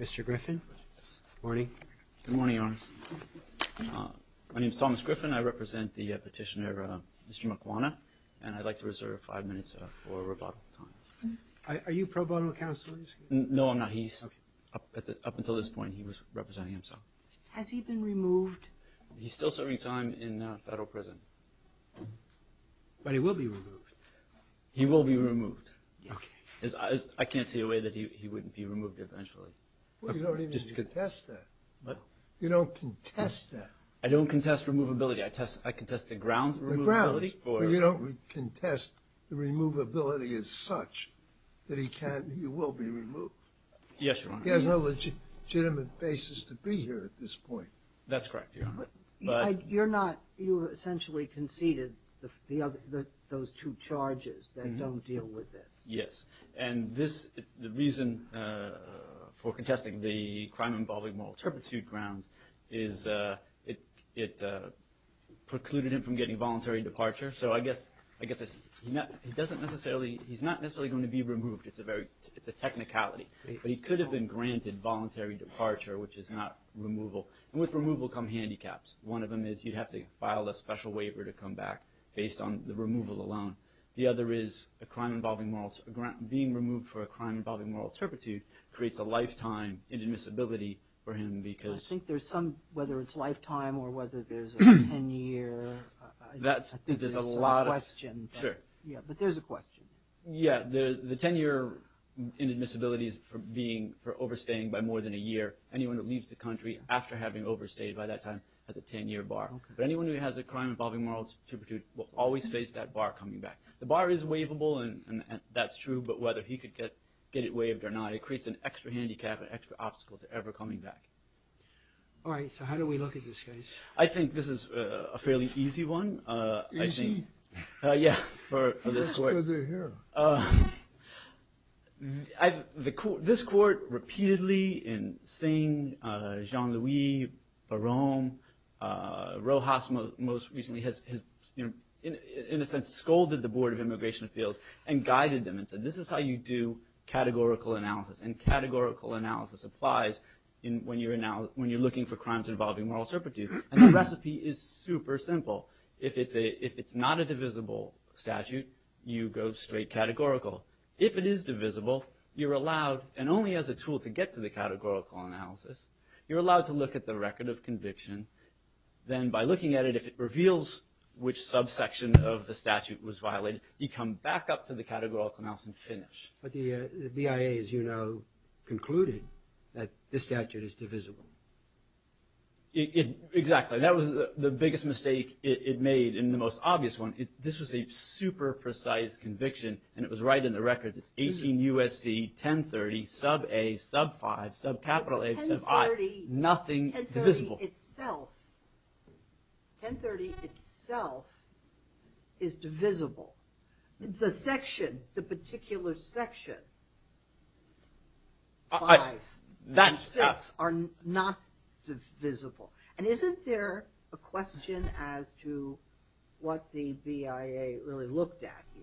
Mr. Griffin, good morning. Good morning, Your Honor. My name is Thomas Griffin. I represent the petitioner, Mr. Makwana, and I'd like to reserve five minutes for rebuttal time. Are you pro bono counsel? No, I'm not. Up until this point, he was representing himself. Has he been removed? He's still serving time in federal prison. But he will be removed. He will be removed. I can't see a way that he wouldn't be removed eventually. You don't even contest that. You don't contest that. I don't contest removability. I contest the grounds of removability. You don't contest the removability as such that he will be removed. Yes, Your Honor. He has no legitimate basis to be here at this point. That's correct, Your Honor. You essentially conceded those two charges that don't deal with this. Yes. And the reason for contesting the crime involving moral turpitude grounds is it precluded him from getting voluntary departure. So I guess he's not necessarily going to be removed. It's a technicality. But he could have been granted voluntary departure, which is not removal. And with removal come handicaps. One of them is you'd have to file a special waiver to come back based on the removal alone. The other is a crime involving moral – being removed for a crime involving moral turpitude creates a lifetime inadmissibility for him because – I think there's some – whether it's lifetime or whether there's a 10-year – I think there's a lot of questions. Sure. Yeah. But there's a question. Yeah. The 10-year inadmissibility is for being – for overstaying by more than a year. Anyone who leaves the country after having overstayed by that time has a 10-year bar. But anyone who has a crime involving moral turpitude will always face that bar coming back. The bar is waivable, and that's true. But whether he could get it waived or not, it creates an extra handicap, an extra obstacle to ever coming back. All right. So how do we look at this case? I think this is a fairly easy one. Easy? Yeah, for this court. That's good to hear. This court repeatedly in Singh, Jean-Louis, Barone, Rojas most recently has, in a sense, scolded the Board of Immigration Appeals and guided them and said this is how you do categorical analysis. And categorical analysis applies when you're looking for crimes involving moral turpitude. And the recipe is super simple. If it's a – if it's not a divisible statute, you go straight categorical. If it is divisible, you're allowed – and only as a tool to get to the categorical analysis – you're allowed to look at the record of conviction. Then by looking at it, if it reveals which subsection of the statute was violated, you come back up to the categorical analysis and finish. But the BIA, as you know, concluded that this statute is divisible. It – exactly. That was the biggest mistake it made and the most obvious one. This was a super precise conviction, and it was right in the records. It's 18 U.S.C. 1030 sub-A, sub-5, sub-capital A, sub-I. 1030 – Nothing divisible. 1030 itself – 1030 itself is divisible. The section, the particular section, 5 and 6, are not divisible. And isn't there a question as to what the BIA really looked at here?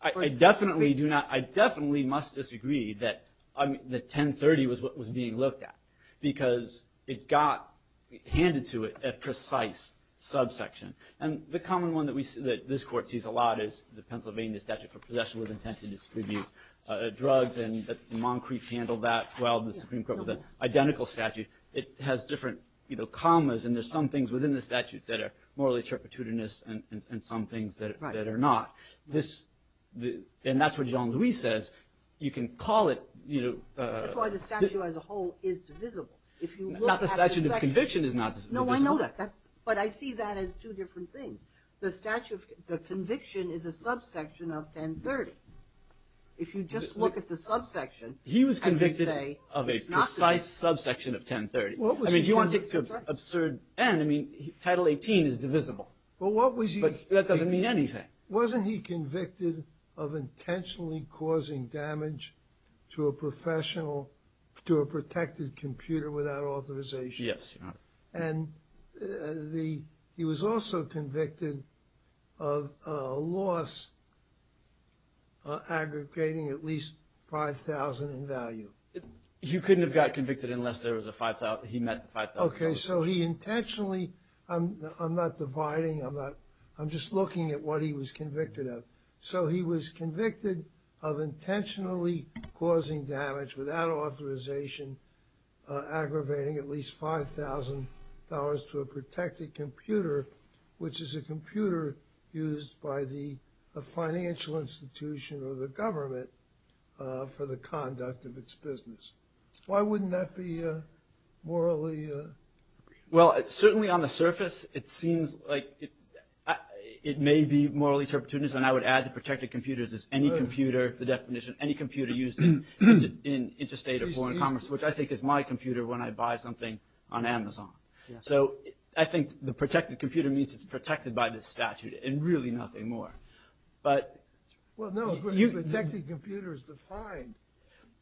I definitely do not – I definitely must disagree that – that 1030 was what was being looked at, because it got handed to it a precise subsection. And the common one that we – that this Court sees a lot is the Pennsylvania statute for possession with intent to distribute drugs, and that Moncrief handled that well. The Supreme Court with an identical statute. It has different, you know, commas, and there's some things within the statute that are morally turpitudinous and some things that are not. Right. This – and that's what Jean-Louis says. You can call it, you know – That's why the statute as a whole is divisible. If you look at the section – Not the statute of conviction is not divisible. No, I know that. But I see that as two different things. The statute – the conviction is a subsection of 1030. If you just look at the subsection, I would say it's not divisible. He was convicted of a precise subsection of 1030. What was he convicted of? I mean, do you want to take the absurd – and, I mean, Title 18 is divisible. But what was he – But that doesn't mean anything. Wasn't he convicted of intentionally causing damage to a professional – to a protected computer without authorization? Yes, Your Honor. And the – he was also convicted of a loss aggregating at least $5,000 in value. You couldn't have got convicted unless there was a – he met $5,000. Okay. So he intentionally – I'm not dividing. I'm not – I'm just looking at what he was convicted of. So he was convicted of intentionally causing damage without authorization and aggravating at least $5,000 to a protected computer, which is a computer used by the financial institution or the government for the conduct of its business. Why wouldn't that be morally – Well, certainly on the surface, it seems like it may be morally – and I would add the protected computers as any computer – I think is my computer when I buy something on Amazon. So I think the protected computer means it's protected by this statute and really nothing more. But – Well, no, a protected computer is defined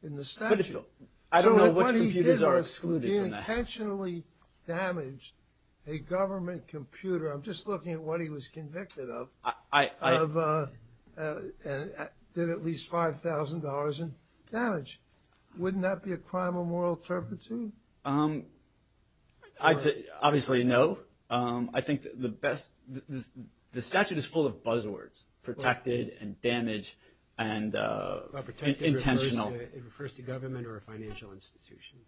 in the statute. I don't know which computers are excluded in that. So what he did was he intentionally damaged a government computer – I'm just looking at what he was convicted of – of – did at least $5,000 in damage. Wouldn't that be a crime of moral turpitude? I'd say obviously no. I think the best – the statute is full of buzzwords, protected and damaged and intentional. It refers to government or a financial institution.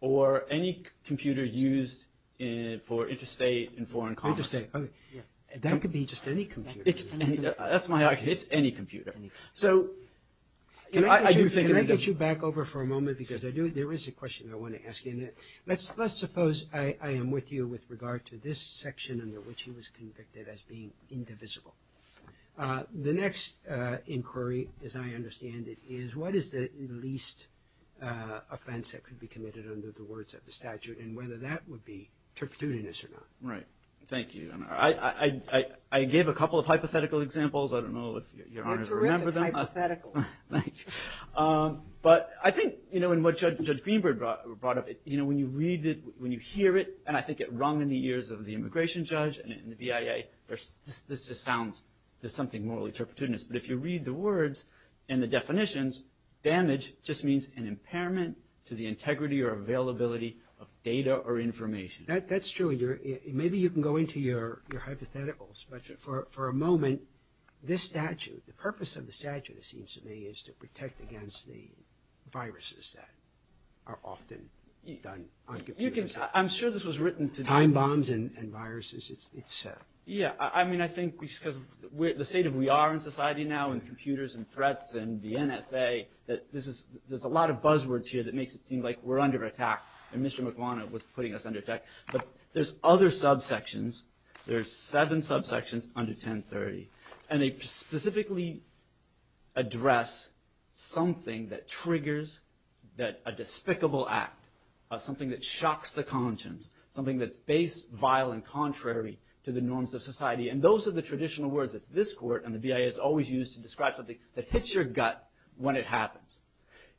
Or any computer used for interstate and foreign commerce. Interstate, okay. That could be just any computer. That's my argument. It's any computer. Can I get you back over for a moment? Because there is a question I want to ask you. Let's suppose I am with you with regard to this section under which he was convicted as being indivisible. The next inquiry, as I understand it, is what is the least offense that could be committed under the words of the statute and whether that would be turpitudinous or not. Right. Thank you. I gave a couple of hypothetical examples. I don't know if Your Honor remembers them. They're terrific hypotheticals. Thank you. But I think in what Judge Greenberg brought up, when you read it, when you hear it, and I think it rung in the ears of the immigration judge and the BIA, this just sounds – there's something morally turpitudinous. But if you read the words and the definitions, damage just means an impairment to the integrity or availability of data or information. That's true. Maybe you can go into your hypotheticals. But for a moment, this statute, the purpose of the statute, it seems to me, is to protect against the viruses that are often done on computers. You can – I'm sure this was written to – Time bombs and viruses. Yeah. I mean, I think because of the state of we are in society now and computers and threats and the NSA, that this is – there's a lot of buzzwords here that makes it seem like we're under attack and Mr. Maguana was putting us under attack. But there's other subsections. There are seven subsections under 1030. And they specifically address something that triggers that – a despicable act, something that shocks the conscience, something that's base, vile, and contrary to the norms of society. And those are the traditional words. It's this court, and the BIA, is always used to describe something that hits your gut when it happens.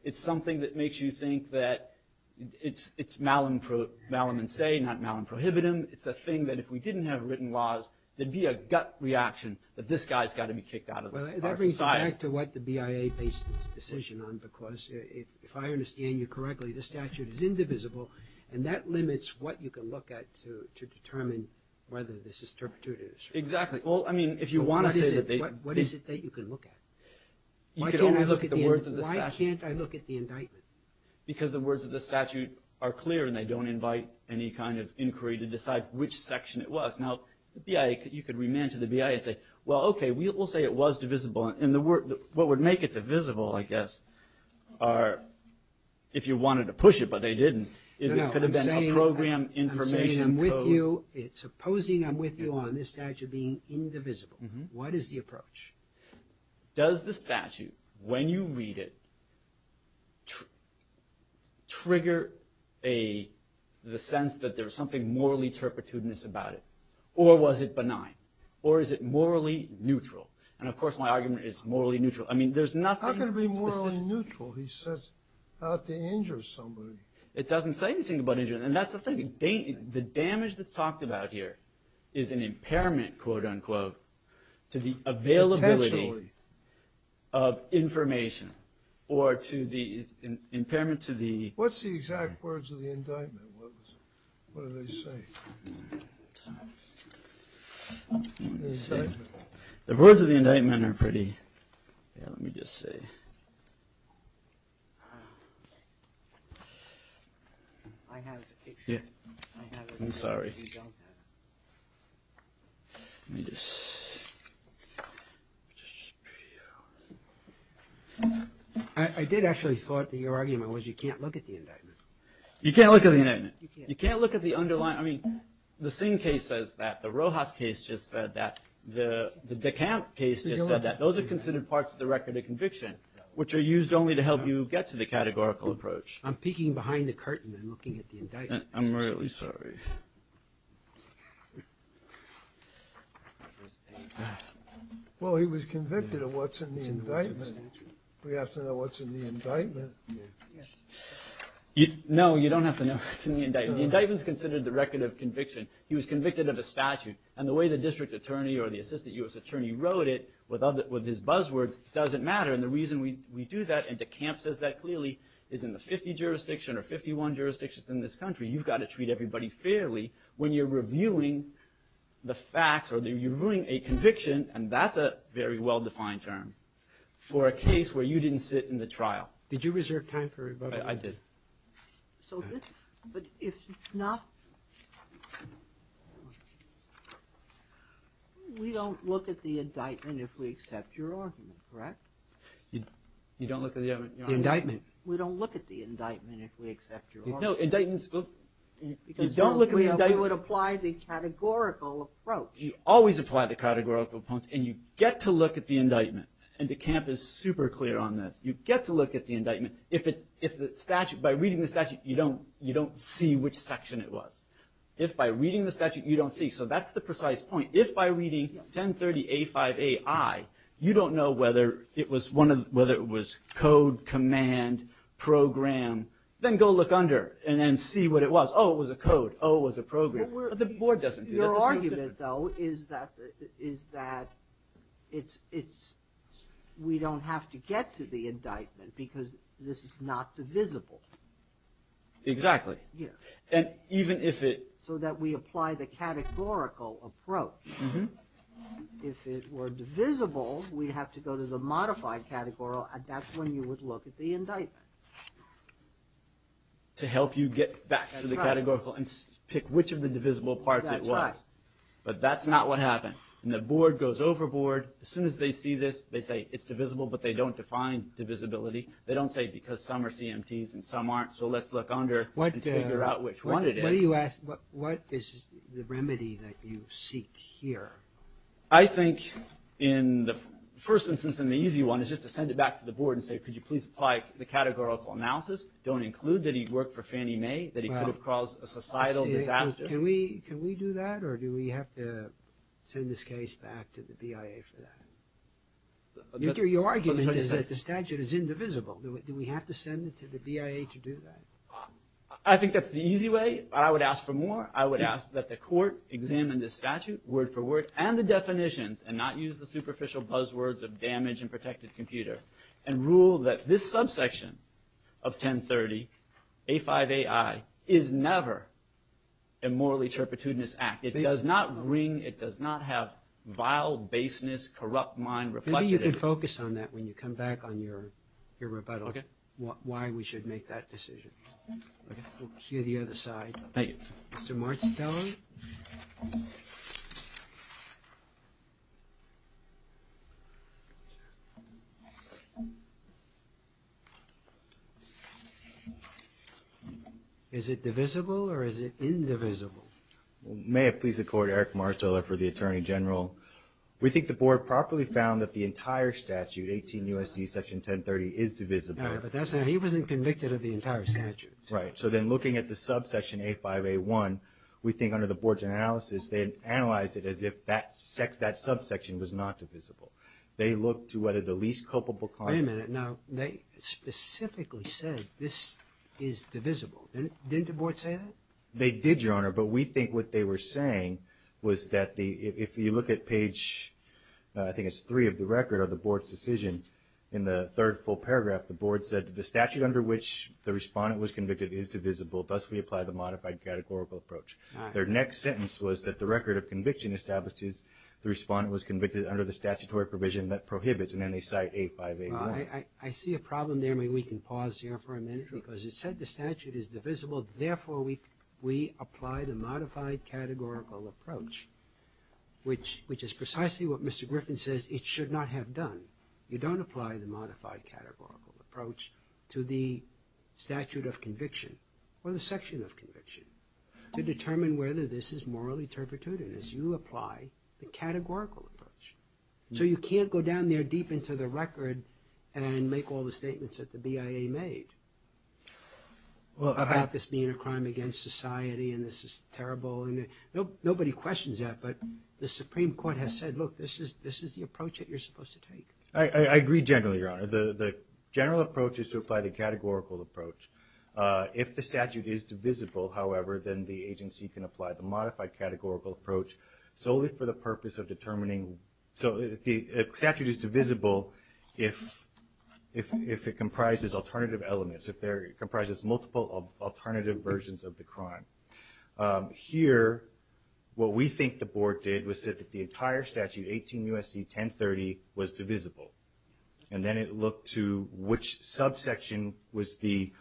It's something that makes you think that it's malum in se, not malum prohibitum. It's a thing that if we didn't have written laws, there'd be a gut reaction that this guy's got to be kicked out of our society. Well, that brings it back to what the BIA based its decision on, because if I understand you correctly, the statute is indivisible, and that limits what you can look at to determine whether this is turpitude or truth. Exactly. Well, I mean, if you want to say that they – What is it that you can look at? You can only look at the words of the statute. Why can't I look at the indictment? Because the words of the statute are clear, and they don't invite any kind of inquiry to decide which section it was. Now, the BIA, you could remand to the BIA and say, well, okay, we'll say it was divisible, and what would make it divisible, I guess, are if you wanted to push it, but they didn't, is it could have been a program information code. I'm saying I'm with you. Supposing I'm with you on this statute being indivisible, what is the approach? Does the statute, when you read it, trigger the sense that there's something morally turpitudinous about it, or was it benign, or is it morally neutral? And, of course, my argument is morally neutral. I mean, there's nothing specific. How can it be morally neutral? He says not to injure somebody. It doesn't say anything about injuring. And that's the thing. The damage that's talked about here is an impairment, quote, unquote, to the availability of information or to the impairment to the... What's the exact words of the indictment? What do they say? The words of the indictment are pretty... Let me just see. I have a picture. I'm sorry. Let me just... I did actually thought that your argument was you can't look at the indictment. You can't look at the indictment. You can't look at the underlying... I mean, the Singh case says that. The Rojas case just said that. The DeCant case just said that. Those are considered parts of the record of conviction, which are used only to help you get to the categorical approach. I'm peeking behind the curtain and looking at the indictment. I'm really sorry. Well, he was convicted of what's in the indictment. We have to know what's in the indictment. No, you don't have to know what's in the indictment. The indictment's considered the record of conviction. He was convicted of a statute. And the way the district attorney or the assistant U.S. attorney wrote it with his buzzwords doesn't matter. And the reason we do that and DeCant says that clearly is in the 50 jurisdiction or 51 jurisdictions in this country. You've got to treat everybody fairly when you're reviewing the facts or you're reviewing a conviction, and that's a very well-defined term, for a case where you didn't sit in the trial. Did you reserve time for rebuttal? I did. But if it's not... We don't look at the indictment if we accept your argument, correct? You don't look at the argument? The indictment. We don't look at the indictment if we accept your argument. No, indictments... You don't look at the indictment? We would apply the categorical approach. You always apply the categorical approach, and you get to look at the indictment. And DeCant is super clear on this. You get to look at the indictment. By reading the statute, you don't see which section it was. If by reading the statute, you don't see. So that's the precise point. If by reading 1030A5AI, you don't know whether it was code, command, program, then go look under and then see what it was. Oh, it was a code. Oh, it was a program. But the board doesn't do that. Your argument, though, is that we don't have to get to the indictment because this is not divisible. Exactly. So that we apply the categorical approach. If it were divisible, we'd have to go to the modified categorical, and that's when you would look at the indictment. To help you get back to the categorical and pick which of the divisible parts it was. That's right. But that's not what happened. And the board goes overboard. As soon as they see this, they say it's divisible, but they don't define divisibility. They don't say because some are CMTs and some aren't, so let's look under and figure out which one it is. What is the remedy that you seek here? I think in the first instance, an easy one, is just to send it back to the board and say, could you please apply the categorical analysis? Don't include that he worked for Fannie Mae, that he could have caused a societal disaster. Can we do that, or do we have to send this case back to the BIA for that? Your argument is that the statute is indivisible. Do we have to send it to the BIA to do that? I think that's the easy way. I would ask for more. I would ask that the court examine the statute word for word and the definitions and not use the superficial buzzwords of damaged and protected computer and rule that this subsection of 1030, A5AI, is never a morally turpitudinous act. It does not ring. It does not have vile baseness, corrupt mind reflected in it. Maybe you can focus on that when you come back on your rebuttal, why we should make that decision. We'll hear the other side. Thank you. Mr. Martz-Teller? Is it divisible or is it indivisible? May it please the court, Eric Martz-Teller for the Attorney General. We think the board properly found that the entire statute, 18 U.S.C. Section 1030, is divisible. He wasn't convicted of the entire statute. Right. So then looking at the subsection A5A1, we think under the board's analysis, they analyzed it as if that subsection was not divisible. They looked to whether the least culpable conduct. Wait a minute. Now, they specifically said this is divisible. Didn't the board say that? They did, Your Honor, but we think what they were saying was that if you look at page, I think it's three of the record of the board's decision, in the third full paragraph, the board said that the statute under which the respondent was convicted is divisible, thus we apply the modified categorical approach. Their next sentence was that the record of conviction establishes the respondent was convicted under the statutory provision that prohibits, and then they cite A5A1. I see a problem there. Maybe we can pause here for a minute. Because it said the statute is divisible, therefore we apply the modified categorical approach, which is precisely what Mr. Griffin says it should not have done. You don't apply the modified categorical approach to the statute of conviction or the section of conviction to determine whether this is morally turpitude. You apply the categorical approach. So you can't go down there deep into the record and make all the statements that the BIA made about this being a crime against society and this is terrible. Nobody questions that, but the Supreme Court has said, look, this is the approach that you're supposed to take. I agree generally, Your Honor. The general approach is to apply the categorical approach. If the statute is divisible, however, then the agency can apply the modified categorical approach solely for the purpose of determining. So the statute is divisible if it comprises alternative elements, if it comprises multiple alternative versions of the crime. Here, what we think the Board did was that the entire statute, 18 U.S.C. 1030, was divisible, and then it looked to which subsection was the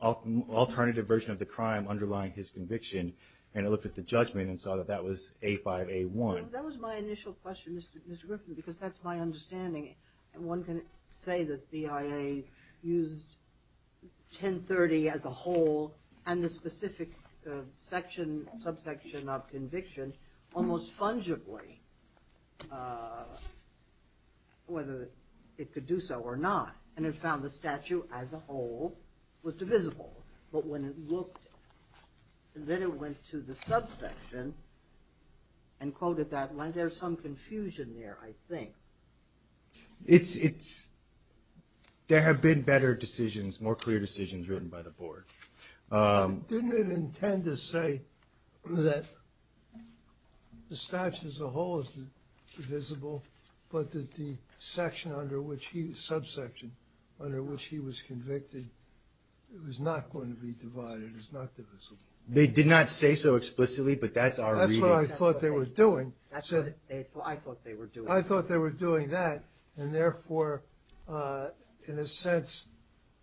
alternative version of the crime underlying his conviction, and it looked at the judgment and saw that that was A5-A1. That was my initial question, Mr. Griffin, because that's my understanding. One can say that BIA used 1030 as a whole and the specific subsection of conviction almost fungibly, whether it could do so or not, and it found the statute as a whole was divisible. But when it looked, then it went to the subsection and quoted that line. There's some confusion there, I think. There have been better decisions, written by the Board. Didn't it intend to say that the statute as a whole is divisible, but that the subsection under which he was convicted was not going to be divided, is not divisible? They did not say so explicitly, but that's our reading. That's what I thought they were doing.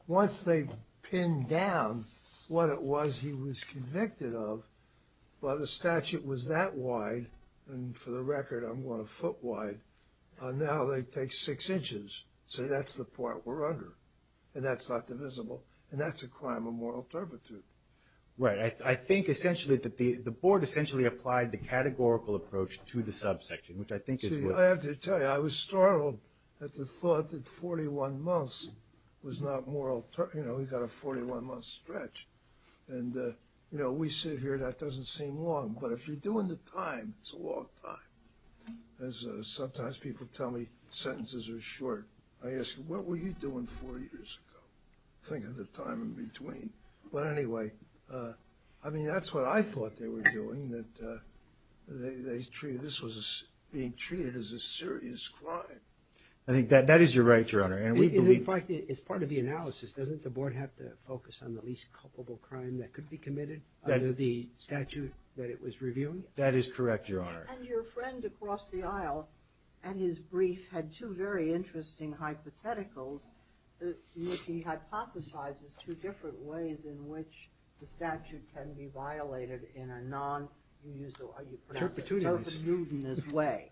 Once they pinned down what it was he was convicted of, while the statute was that wide, and for the record, I'm going a foot wide, now they take six inches. So that's the part we're under, and that's not divisible, and that's a crime of moral turpitude. Right. I think essentially that the Board essentially applied the categorical approach to the subsection, which I think is what... See, I have to tell you, I was startled at the thought that 41 months was not moral... You know, we've got a 41-month stretch, and, you know, we sit here, that doesn't seem long, but if you're doing the time, it's a long time. As sometimes people tell me, sentences are short. I ask, what were you doing four years ago? Think of the time in between. But anyway, I mean, that's what I thought they were doing, that this was being treated as a serious crime. I think that is your right, Your Honor. In fact, as part of the analysis, doesn't the Board have to focus on the least culpable crime that could be committed under the statute that it was reviewing? That is correct, Your Honor. And your friend across the aisle, and his brief, had two very interesting hypotheticals which he hypothesizes two different ways in which the statute can be violated in a non... You used the word...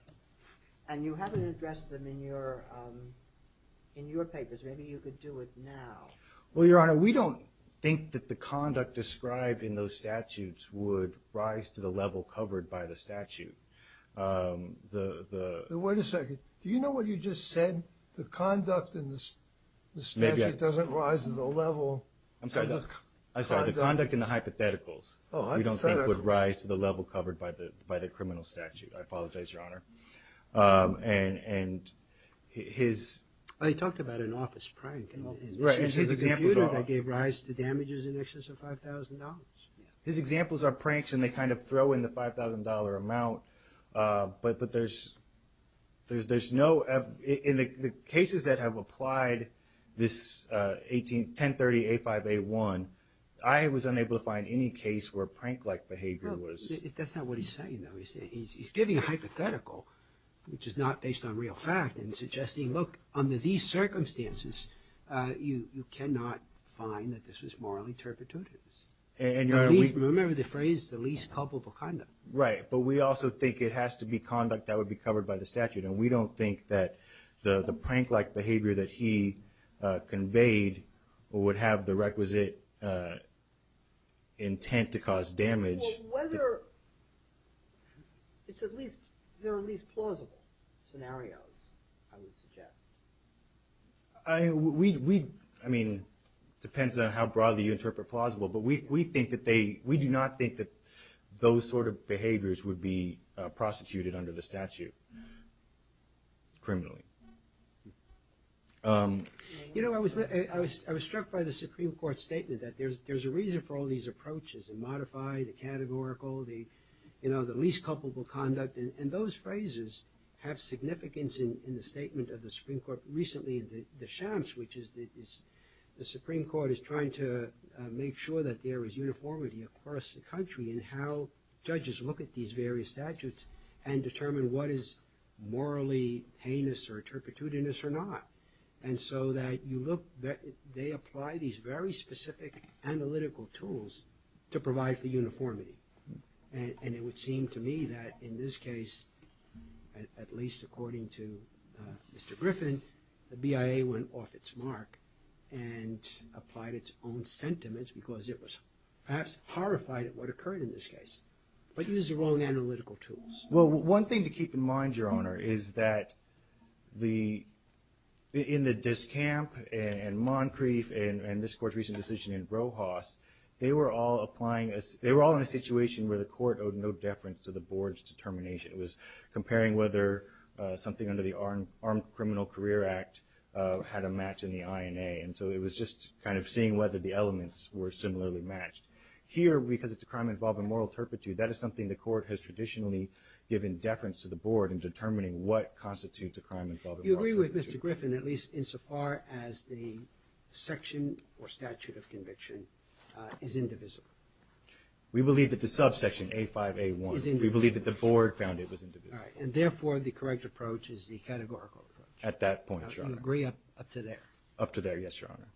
And you haven't addressed them in your papers. Maybe you could do it now. Well, Your Honor, we don't think that the conduct described in those statutes would rise to the level covered by the statute. Wait a second. Do you know what you just said? The conduct in the statute doesn't rise to the level... I'm sorry, the conduct in the hypotheticals we don't think would rise to the level covered by the criminal statute. I apologize, Your Honor. And his... He talked about an office prank. His examples are... That gave rise to damages in excess of $5,000. His examples are pranks, and they kind of throw in the $5,000 amount, but there's no... In the cases that have applied, this 1030A5A1, I was unable to find any case where prank-like behavior was... That's not what he's saying, though. He's giving a hypothetical, which is not based on real fact, and suggesting, look, under these circumstances, you cannot find that this was morally turpitude. Remember the phrase, the least culpable conduct. Right, but we also think it has to be conduct that would be covered by the statute, and we don't think that the prank-like behavior that he conveyed would have the requisite intent to cause damage. Well, whether... It's at least... There are at least plausible scenarios, I would suggest. We... I mean, it depends on how broadly you interpret plausible, but we think that they... We do not think that those sort of behaviors would be prosecuted under the statute. Criminally. You know, I was struck by the Supreme Court's statement that there's a reason for all these approaches, the modified, the categorical, the least culpable conduct, and those phrases have significance in the statement of the Supreme Court. Recently, the shams, which is... The Supreme Court is trying to make sure that there is uniformity across the country in how judges look at these various statutes and determine what is morally heinous or turpitudinous or not. And so that you look... They apply these very specific analytical tools to provide for uniformity. And it would seem to me that in this case, at least according to Mr. Griffin, the BIA went off its mark and applied its own sentiments because it was perhaps horrified at what occurred in this case, but used the wrong analytical tools. Well, one thing to keep in mind, Your Honor, is that the... In the Discamp and Moncrief and this Court's recent decision in Rojas, they were all applying... They were all in a situation where the Court owed no deference to the Board's determination. It was comparing whether something under the Armed Criminal Career Act had a match in the INA. And so it was just kind of seeing whether the elements were similarly matched. Here, because it's a crime involving moral turpitude, that is something the Court has traditionally given deference to the Board in determining what constitutes a crime involving moral turpitude. You agree with Mr. Griffin, at least insofar as the section or statute of conviction is indivisible? We believe that the subsection A5A1... Is indivisible. We believe that the Board found it was indivisible. All right. And therefore, the correct approach is the categorical approach. At that point, Your Honor. I would agree up to there. Up to there, yes, Your Honor.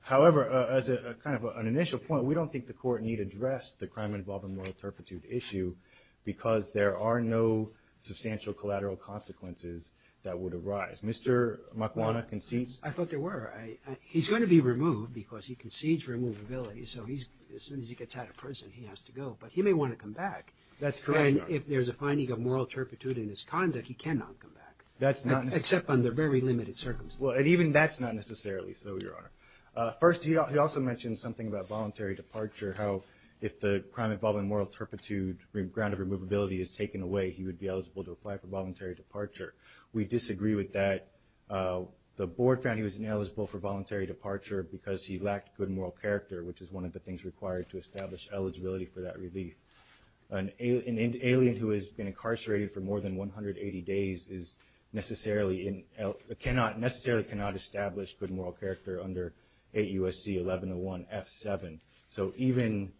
However, as kind of an initial point, we don't think the Court need address the crime involving moral turpitude issue because there are no substantial collateral consequences that would arise. Mr. Makwana concedes... I thought there were. He's going to be removed because he concedes removability. So as soon as he gets out of prison, he has to go. But he may want to come back. That's correct, Your Honor. And if there's a finding of moral turpitude in his conduct, he cannot come back. That's not necessarily... Except under very limited circumstances. Well, and even that's not necessarily so, Your Honor. First, he also mentioned something about voluntary departure, how if the crime involving moral turpitude or ground of removability is taken away, he would be eligible to apply for voluntary departure. We disagree with that. The Board found he was ineligible for voluntary departure because he lacked good moral character, which is one of the things required to establish eligibility for that relief. An alien who has been incarcerated for more than 180 days necessarily cannot establish good moral character under 8 U.S.C. 1101 F7. So even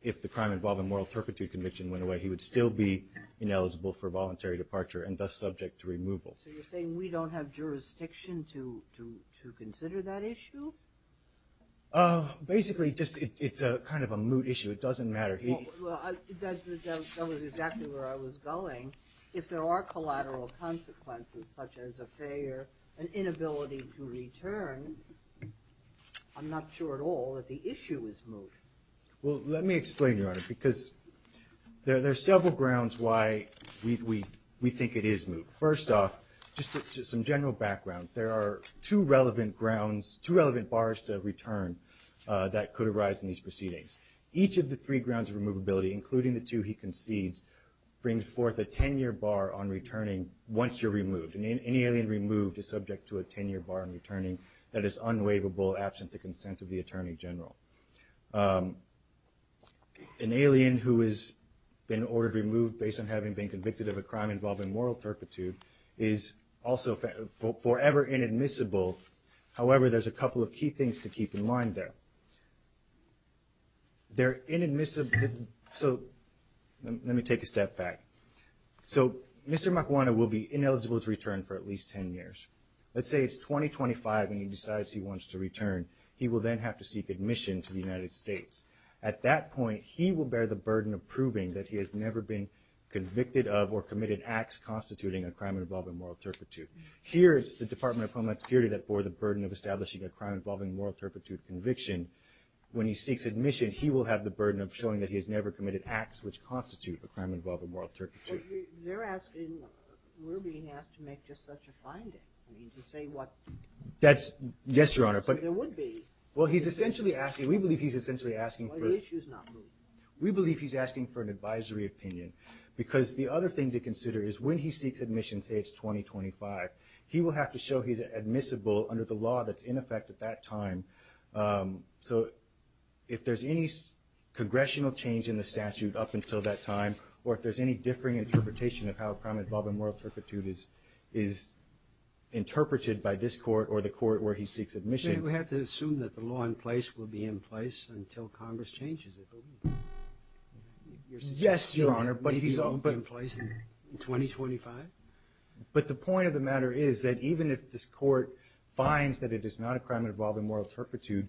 if the crime involving moral turpitude conviction went away, he would still be ineligible for voluntary departure and thus subject to removal. So you're saying we don't have jurisdiction to consider that issue? Basically, it's kind of a moot issue. It doesn't matter. That was exactly where I was going. If there are collateral consequences, such as a failure, an inability to return, I'm not sure at all that the issue is moot. Well, let me explain, Your Honor, because there are several grounds why we think it is moot. First off, just some general background, there are two relevant grounds, two relevant bars to return that could arise in these proceedings. Each of the three grounds of removability, including the two he concedes, brings forth a 10-year bar on returning once you're removed. Any alien removed is subject to a 10-year bar on returning that is unwaivable, absent the consent of the Attorney General. An alien who has been ordered removed based on having been convicted of a crime involving moral turpitude is also forever inadmissible. However, there's a couple of key things to keep in mind there. They're inadmissible, so let me take a step back. So, Mr. Makwana will be ineligible to return for at least 10 years. Let's say it's 2025 and he decides he wants to return. He will then have to seek admission to the United States. At that point, he will bear the burden of proving that he has never been convicted of or committed acts constituting a crime involving moral turpitude. Here, it's the Department of Homeland Security that bore the burden of establishing a crime involving moral turpitude conviction. When he seeks admission, he will have the burden of showing that he has never committed acts which constitute a crime involving moral turpitude. They're asking, we're being asked to make just such a finding. I mean, to say what... That's, yes, Your Honor, but... There would be. Well, he's essentially asking, we believe he's essentially asking for... Well, the issue's not moved. We believe he's asking for an advisory opinion because the other thing to consider is when he seeks admission, say it's 2025, he will have to show he's admissible under the law that's in effect at that time. So if there's any congressional change in the statute up until that time, or if there's any differing interpretation of how a crime involving moral turpitude is interpreted by this court or the court where he seeks admission... We have to assume that the law in place will be in place until Congress changes it, don't we? Yes, Your Honor, but he's... Maybe it will be in place in 2025? But the point of the matter is that even if this court finds that it is not a crime involving moral turpitude,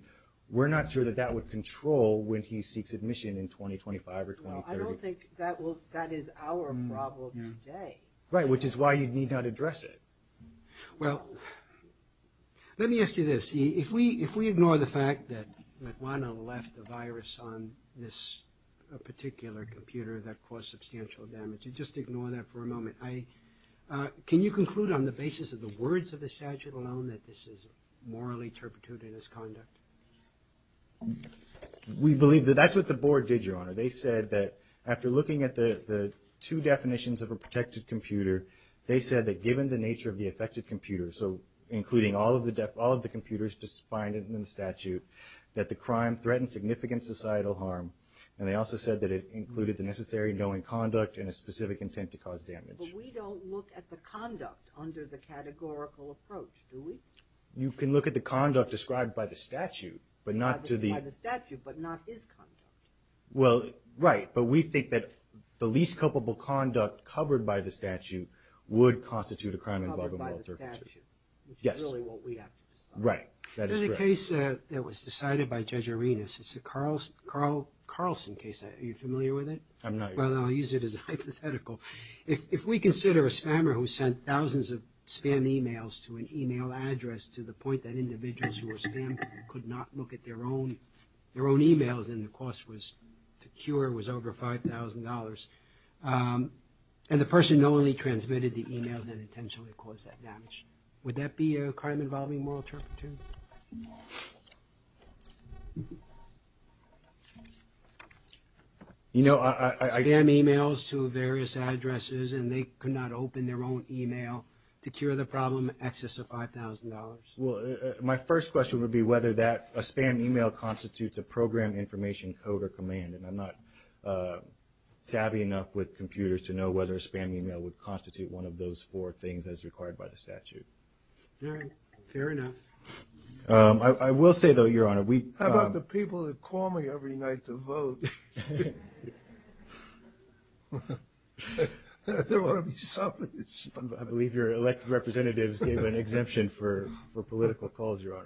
we're not sure that that would control when he seeks admission in 2025 or 2030. Well, I don't think that is our problem today. Right, which is why you need not address it. Well, let me ask you this. If we ignore the fact that McWana left a virus on this particular computer that caused substantial damage, and just ignore that for a moment, can you conclude on the basis of the words of the statute alone that this is morally turpitude in its conduct? We believe that that's what the board did, Your Honor. They said that after looking at the two definitions of a protected computer, they said that given the nature of the affected computer, so including all of the computers defined in the statute, that the crime threatened significant societal harm, and they also said that it included the necessary knowing conduct and a specific intent to cause damage. But we don't look at the conduct under the categorical approach, do we? You can look at the conduct described by the statute, but not to the... By the statute, but not his conduct. Well, right, but we think that the least culpable conduct covered by the statute would constitute a crime involving moral turpitude. Covered by the statute. Yes. Which is really what we have to decide. Right, that is correct. There's a case that was decided by Judge Arenas. It's the Carlson case. Are you familiar with it? I'm not, Your Honor. Well, I'll use it as a hypothetical. If we consider a spammer who sent thousands of spam emails to an email address to the point that individuals who were spammed could not look at their own emails and the cost to cure was over $5,000, and the person only transmitted the emails that intentionally caused that damage, would that be a crime involving moral turpitude? You know, I... Spam emails to various addresses and they could not open their own email to cure the problem in excess of $5,000. Well, my first question would be whether that spam email constitutes a program information code or command, and I'm not savvy enough with computers to know whether a spam email would constitute one of those four things as required by the statute. All right, fair enough. I will say, though, Your Honor, we... How about the people that call me every night to vote? I believe your elected representatives gave an exemption for political calls, Your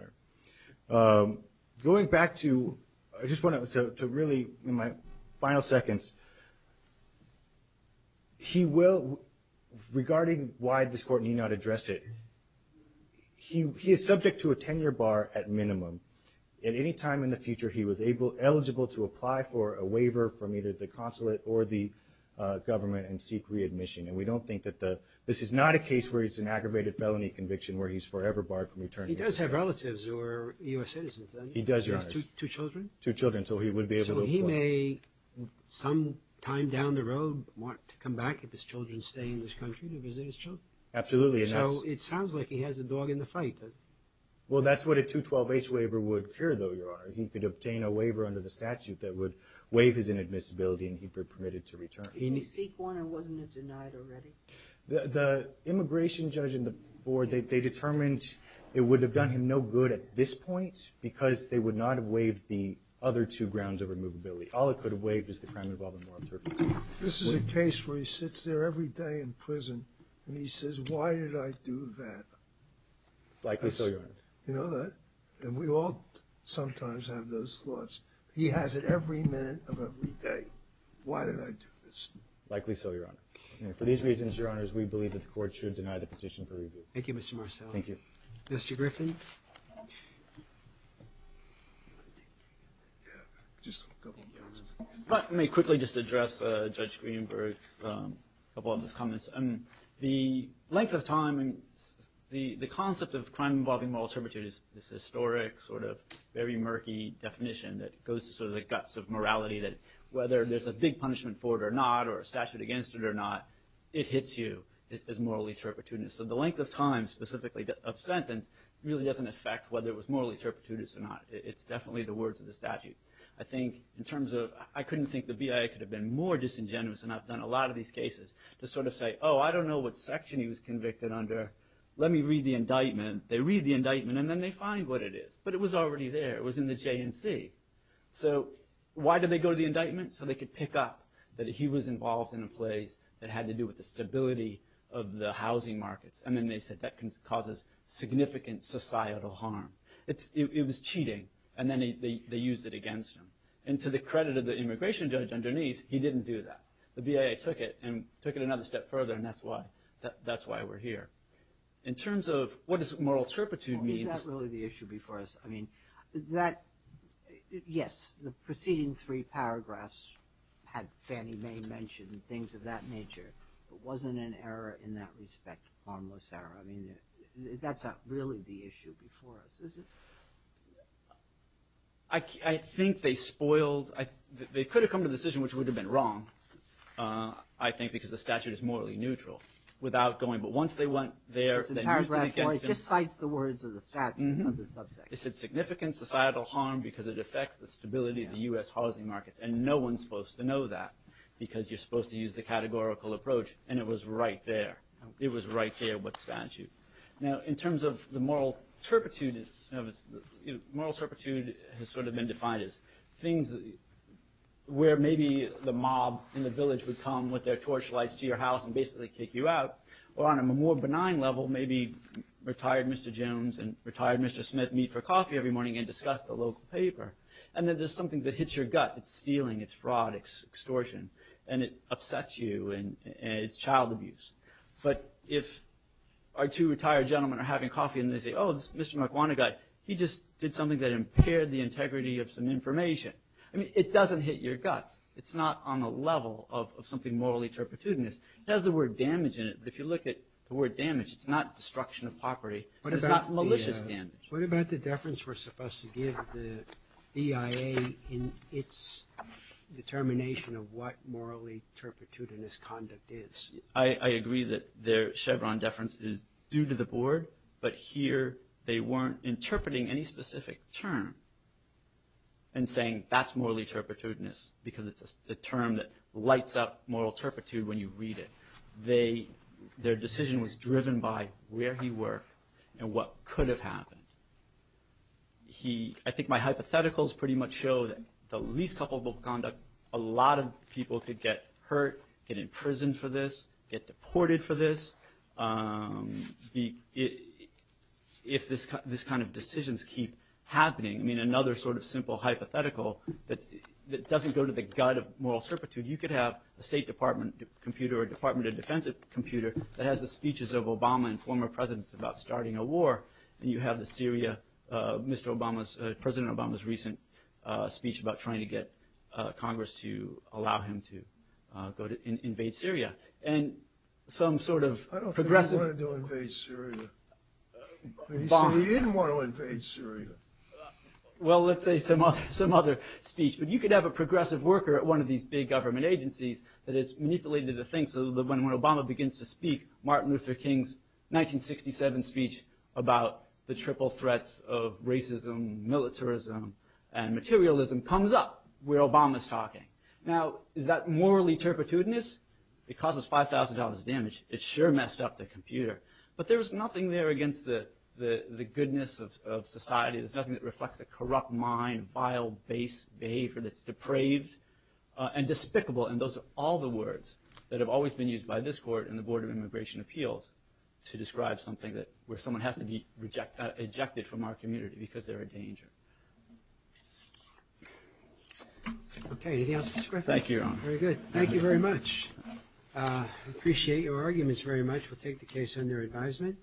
Honor. Going back to... I just want to really, in my final seconds... He will... Regarding why this court need not address it, he is subject to a 10-year bar at minimum, and any time in the future he was eligible to apply for a waiver from either the consulate or the government and seek readmission, and we don't think that the... This is not a case where it's an aggravated felony conviction where he's forever barred from returning. He does have relatives who are U.S. citizens, doesn't he? He does, Your Honor. He has two children? Two children, so he would be able to apply. So he may, sometime down the road, want to come back if his children stay in this country to visit his children? Absolutely, and that's... So it sounds like he has a dog in the fight. Well, that's what a 212H waiver would cure, though, Your Honor. He could obtain a waiver under the statute that would waive his inadmissibility and he'd be permitted to return. Did he seek one or wasn't it denied already? The immigration judge and the board, they determined it would have done him no good at this point because they would not have waived the other two grounds of removability. All it could have waived is the crime involving wild turkeys. This is a case where he sits there every day in prison and he says, why did I do that? It's likely so, Your Honor. You know that? And we all sometimes have those thoughts. He has it every minute of every day. Why did I do this? Likely so, Your Honor. For these reasons, Your Honors, we believe that the court should deny the petition for review. Thank you, Mr. Marcelli. Thank you. Mr. Griffin? Yeah, just a couple of points. If I may quickly just address Judge Greenberg's couple of his comments. The length of time, the concept of crime involving moral turpitude is this historic sort of very murky definition that goes to sort of the guts of morality that whether there's a big punishment for it or not or a statute against it or not, it hits you as morally turpitudinous. So the length of time specifically of sentence really doesn't affect whether it was morally turpitudinous or not. It's definitely the words of the statute. I think in terms of, I couldn't think the BIA could have been more disingenuous and I've done a lot of these cases to sort of say, oh, I don't know what section he was convicted under. Let me read the indictment. They read the indictment and then they find what it is. But it was already there. It was in the J&C. So why did they go to the indictment? So they could pick up that he was involved in a place that had to do with the stability of the housing markets. And then they said that causes significant societal harm. It was cheating. And then they used it against him. And to the credit of the immigration judge underneath, he didn't do that. The BIA took it and took it another step further and that's why we're here. In terms of what does moral turpitude mean? Or is that really the issue before us? I mean, that, yes, the preceding three paragraphs had Fannie Mae mention things of that nature. It wasn't an error in that respect, harmless error. I mean, that's not really the issue before us, is it? I think they spoiled, they could have come to a decision which would have been wrong, I think, because the statute is morally neutral. Without going, but once they went there, they used it against him. It just cites the words of the statute of the subject. It said significant societal harm because it affects the stability of the US housing markets. And no one's supposed to know that because you're supposed to use the categorical approach and it was right there. It was right there with the statute. Now, in terms of the moral turpitude, moral turpitude has sort of been defined as things where maybe the mob in the village would come with their torchlights to your house and basically kick you out. Or on a more benign level, maybe retired Mr. Jones and retired Mr. Smith meet for coffee every morning and discuss the local paper. And then there's something that hits your gut. It's stealing, it's fraud, it's extortion, and it upsets you and it's child abuse. But if our two retired gentlemen are having coffee he just did something that impaired the integrity of some information. I mean, it doesn't hit your guts. It's not on a level of something morally turpitudinous. It has the word damage in it, but if you look at the word damage, it's not destruction of property. It's not malicious damage. What about the deference we're supposed to give the EIA in its determination of what morally turpitudinous conduct is? I agree that their Chevron deference is due to the board, but here they weren't interpreting any specific term and saying that's morally turpitudinous because it's a term that lights up moral turpitude when you read it. Their decision was driven by where he worked and what could have happened. I think my hypotheticals pretty much show that the least culpable conduct, a lot of people could get hurt, get imprisoned for this, get deported for this. If this kind of decisions keep happening, I mean, another sort of simple hypothetical that doesn't go to the gut of moral turpitude, you could have a State Department computer or a Department of Defense computer that has the speeches of Obama and former presidents about starting a war, and you have the Syria, Mr. Obama's, President Obama's recent speech about trying to get Congress to allow him to go to invade Syria. Some sort of progressive... I don't think he wanted to invade Syria. He said he didn't want to invade Syria. Well, let's say some other speech, but you could have a progressive worker at one of these big government agencies that has manipulated the thing so that when Obama begins to speak, Martin Luther King's 1967 speech about the triple threats of racism, militarism, and materialism comes up where Obama's talking. Now, is that morally turpitudinous? It causes $5,000 damage. It sure messed up the computer. But there was nothing there against the goodness of society. There's nothing that reflects a corrupt mind, vile base behavior that's depraved and despicable, and those are all the words that have always been used by this court and the Board of Immigration Appeals to describe something where someone has to be ejected from our community because they're a danger. Okay, anything else? Thank you, Your Honor. Very good, thank you very much. Appreciate your arguments very much. We'll take the case under advisement.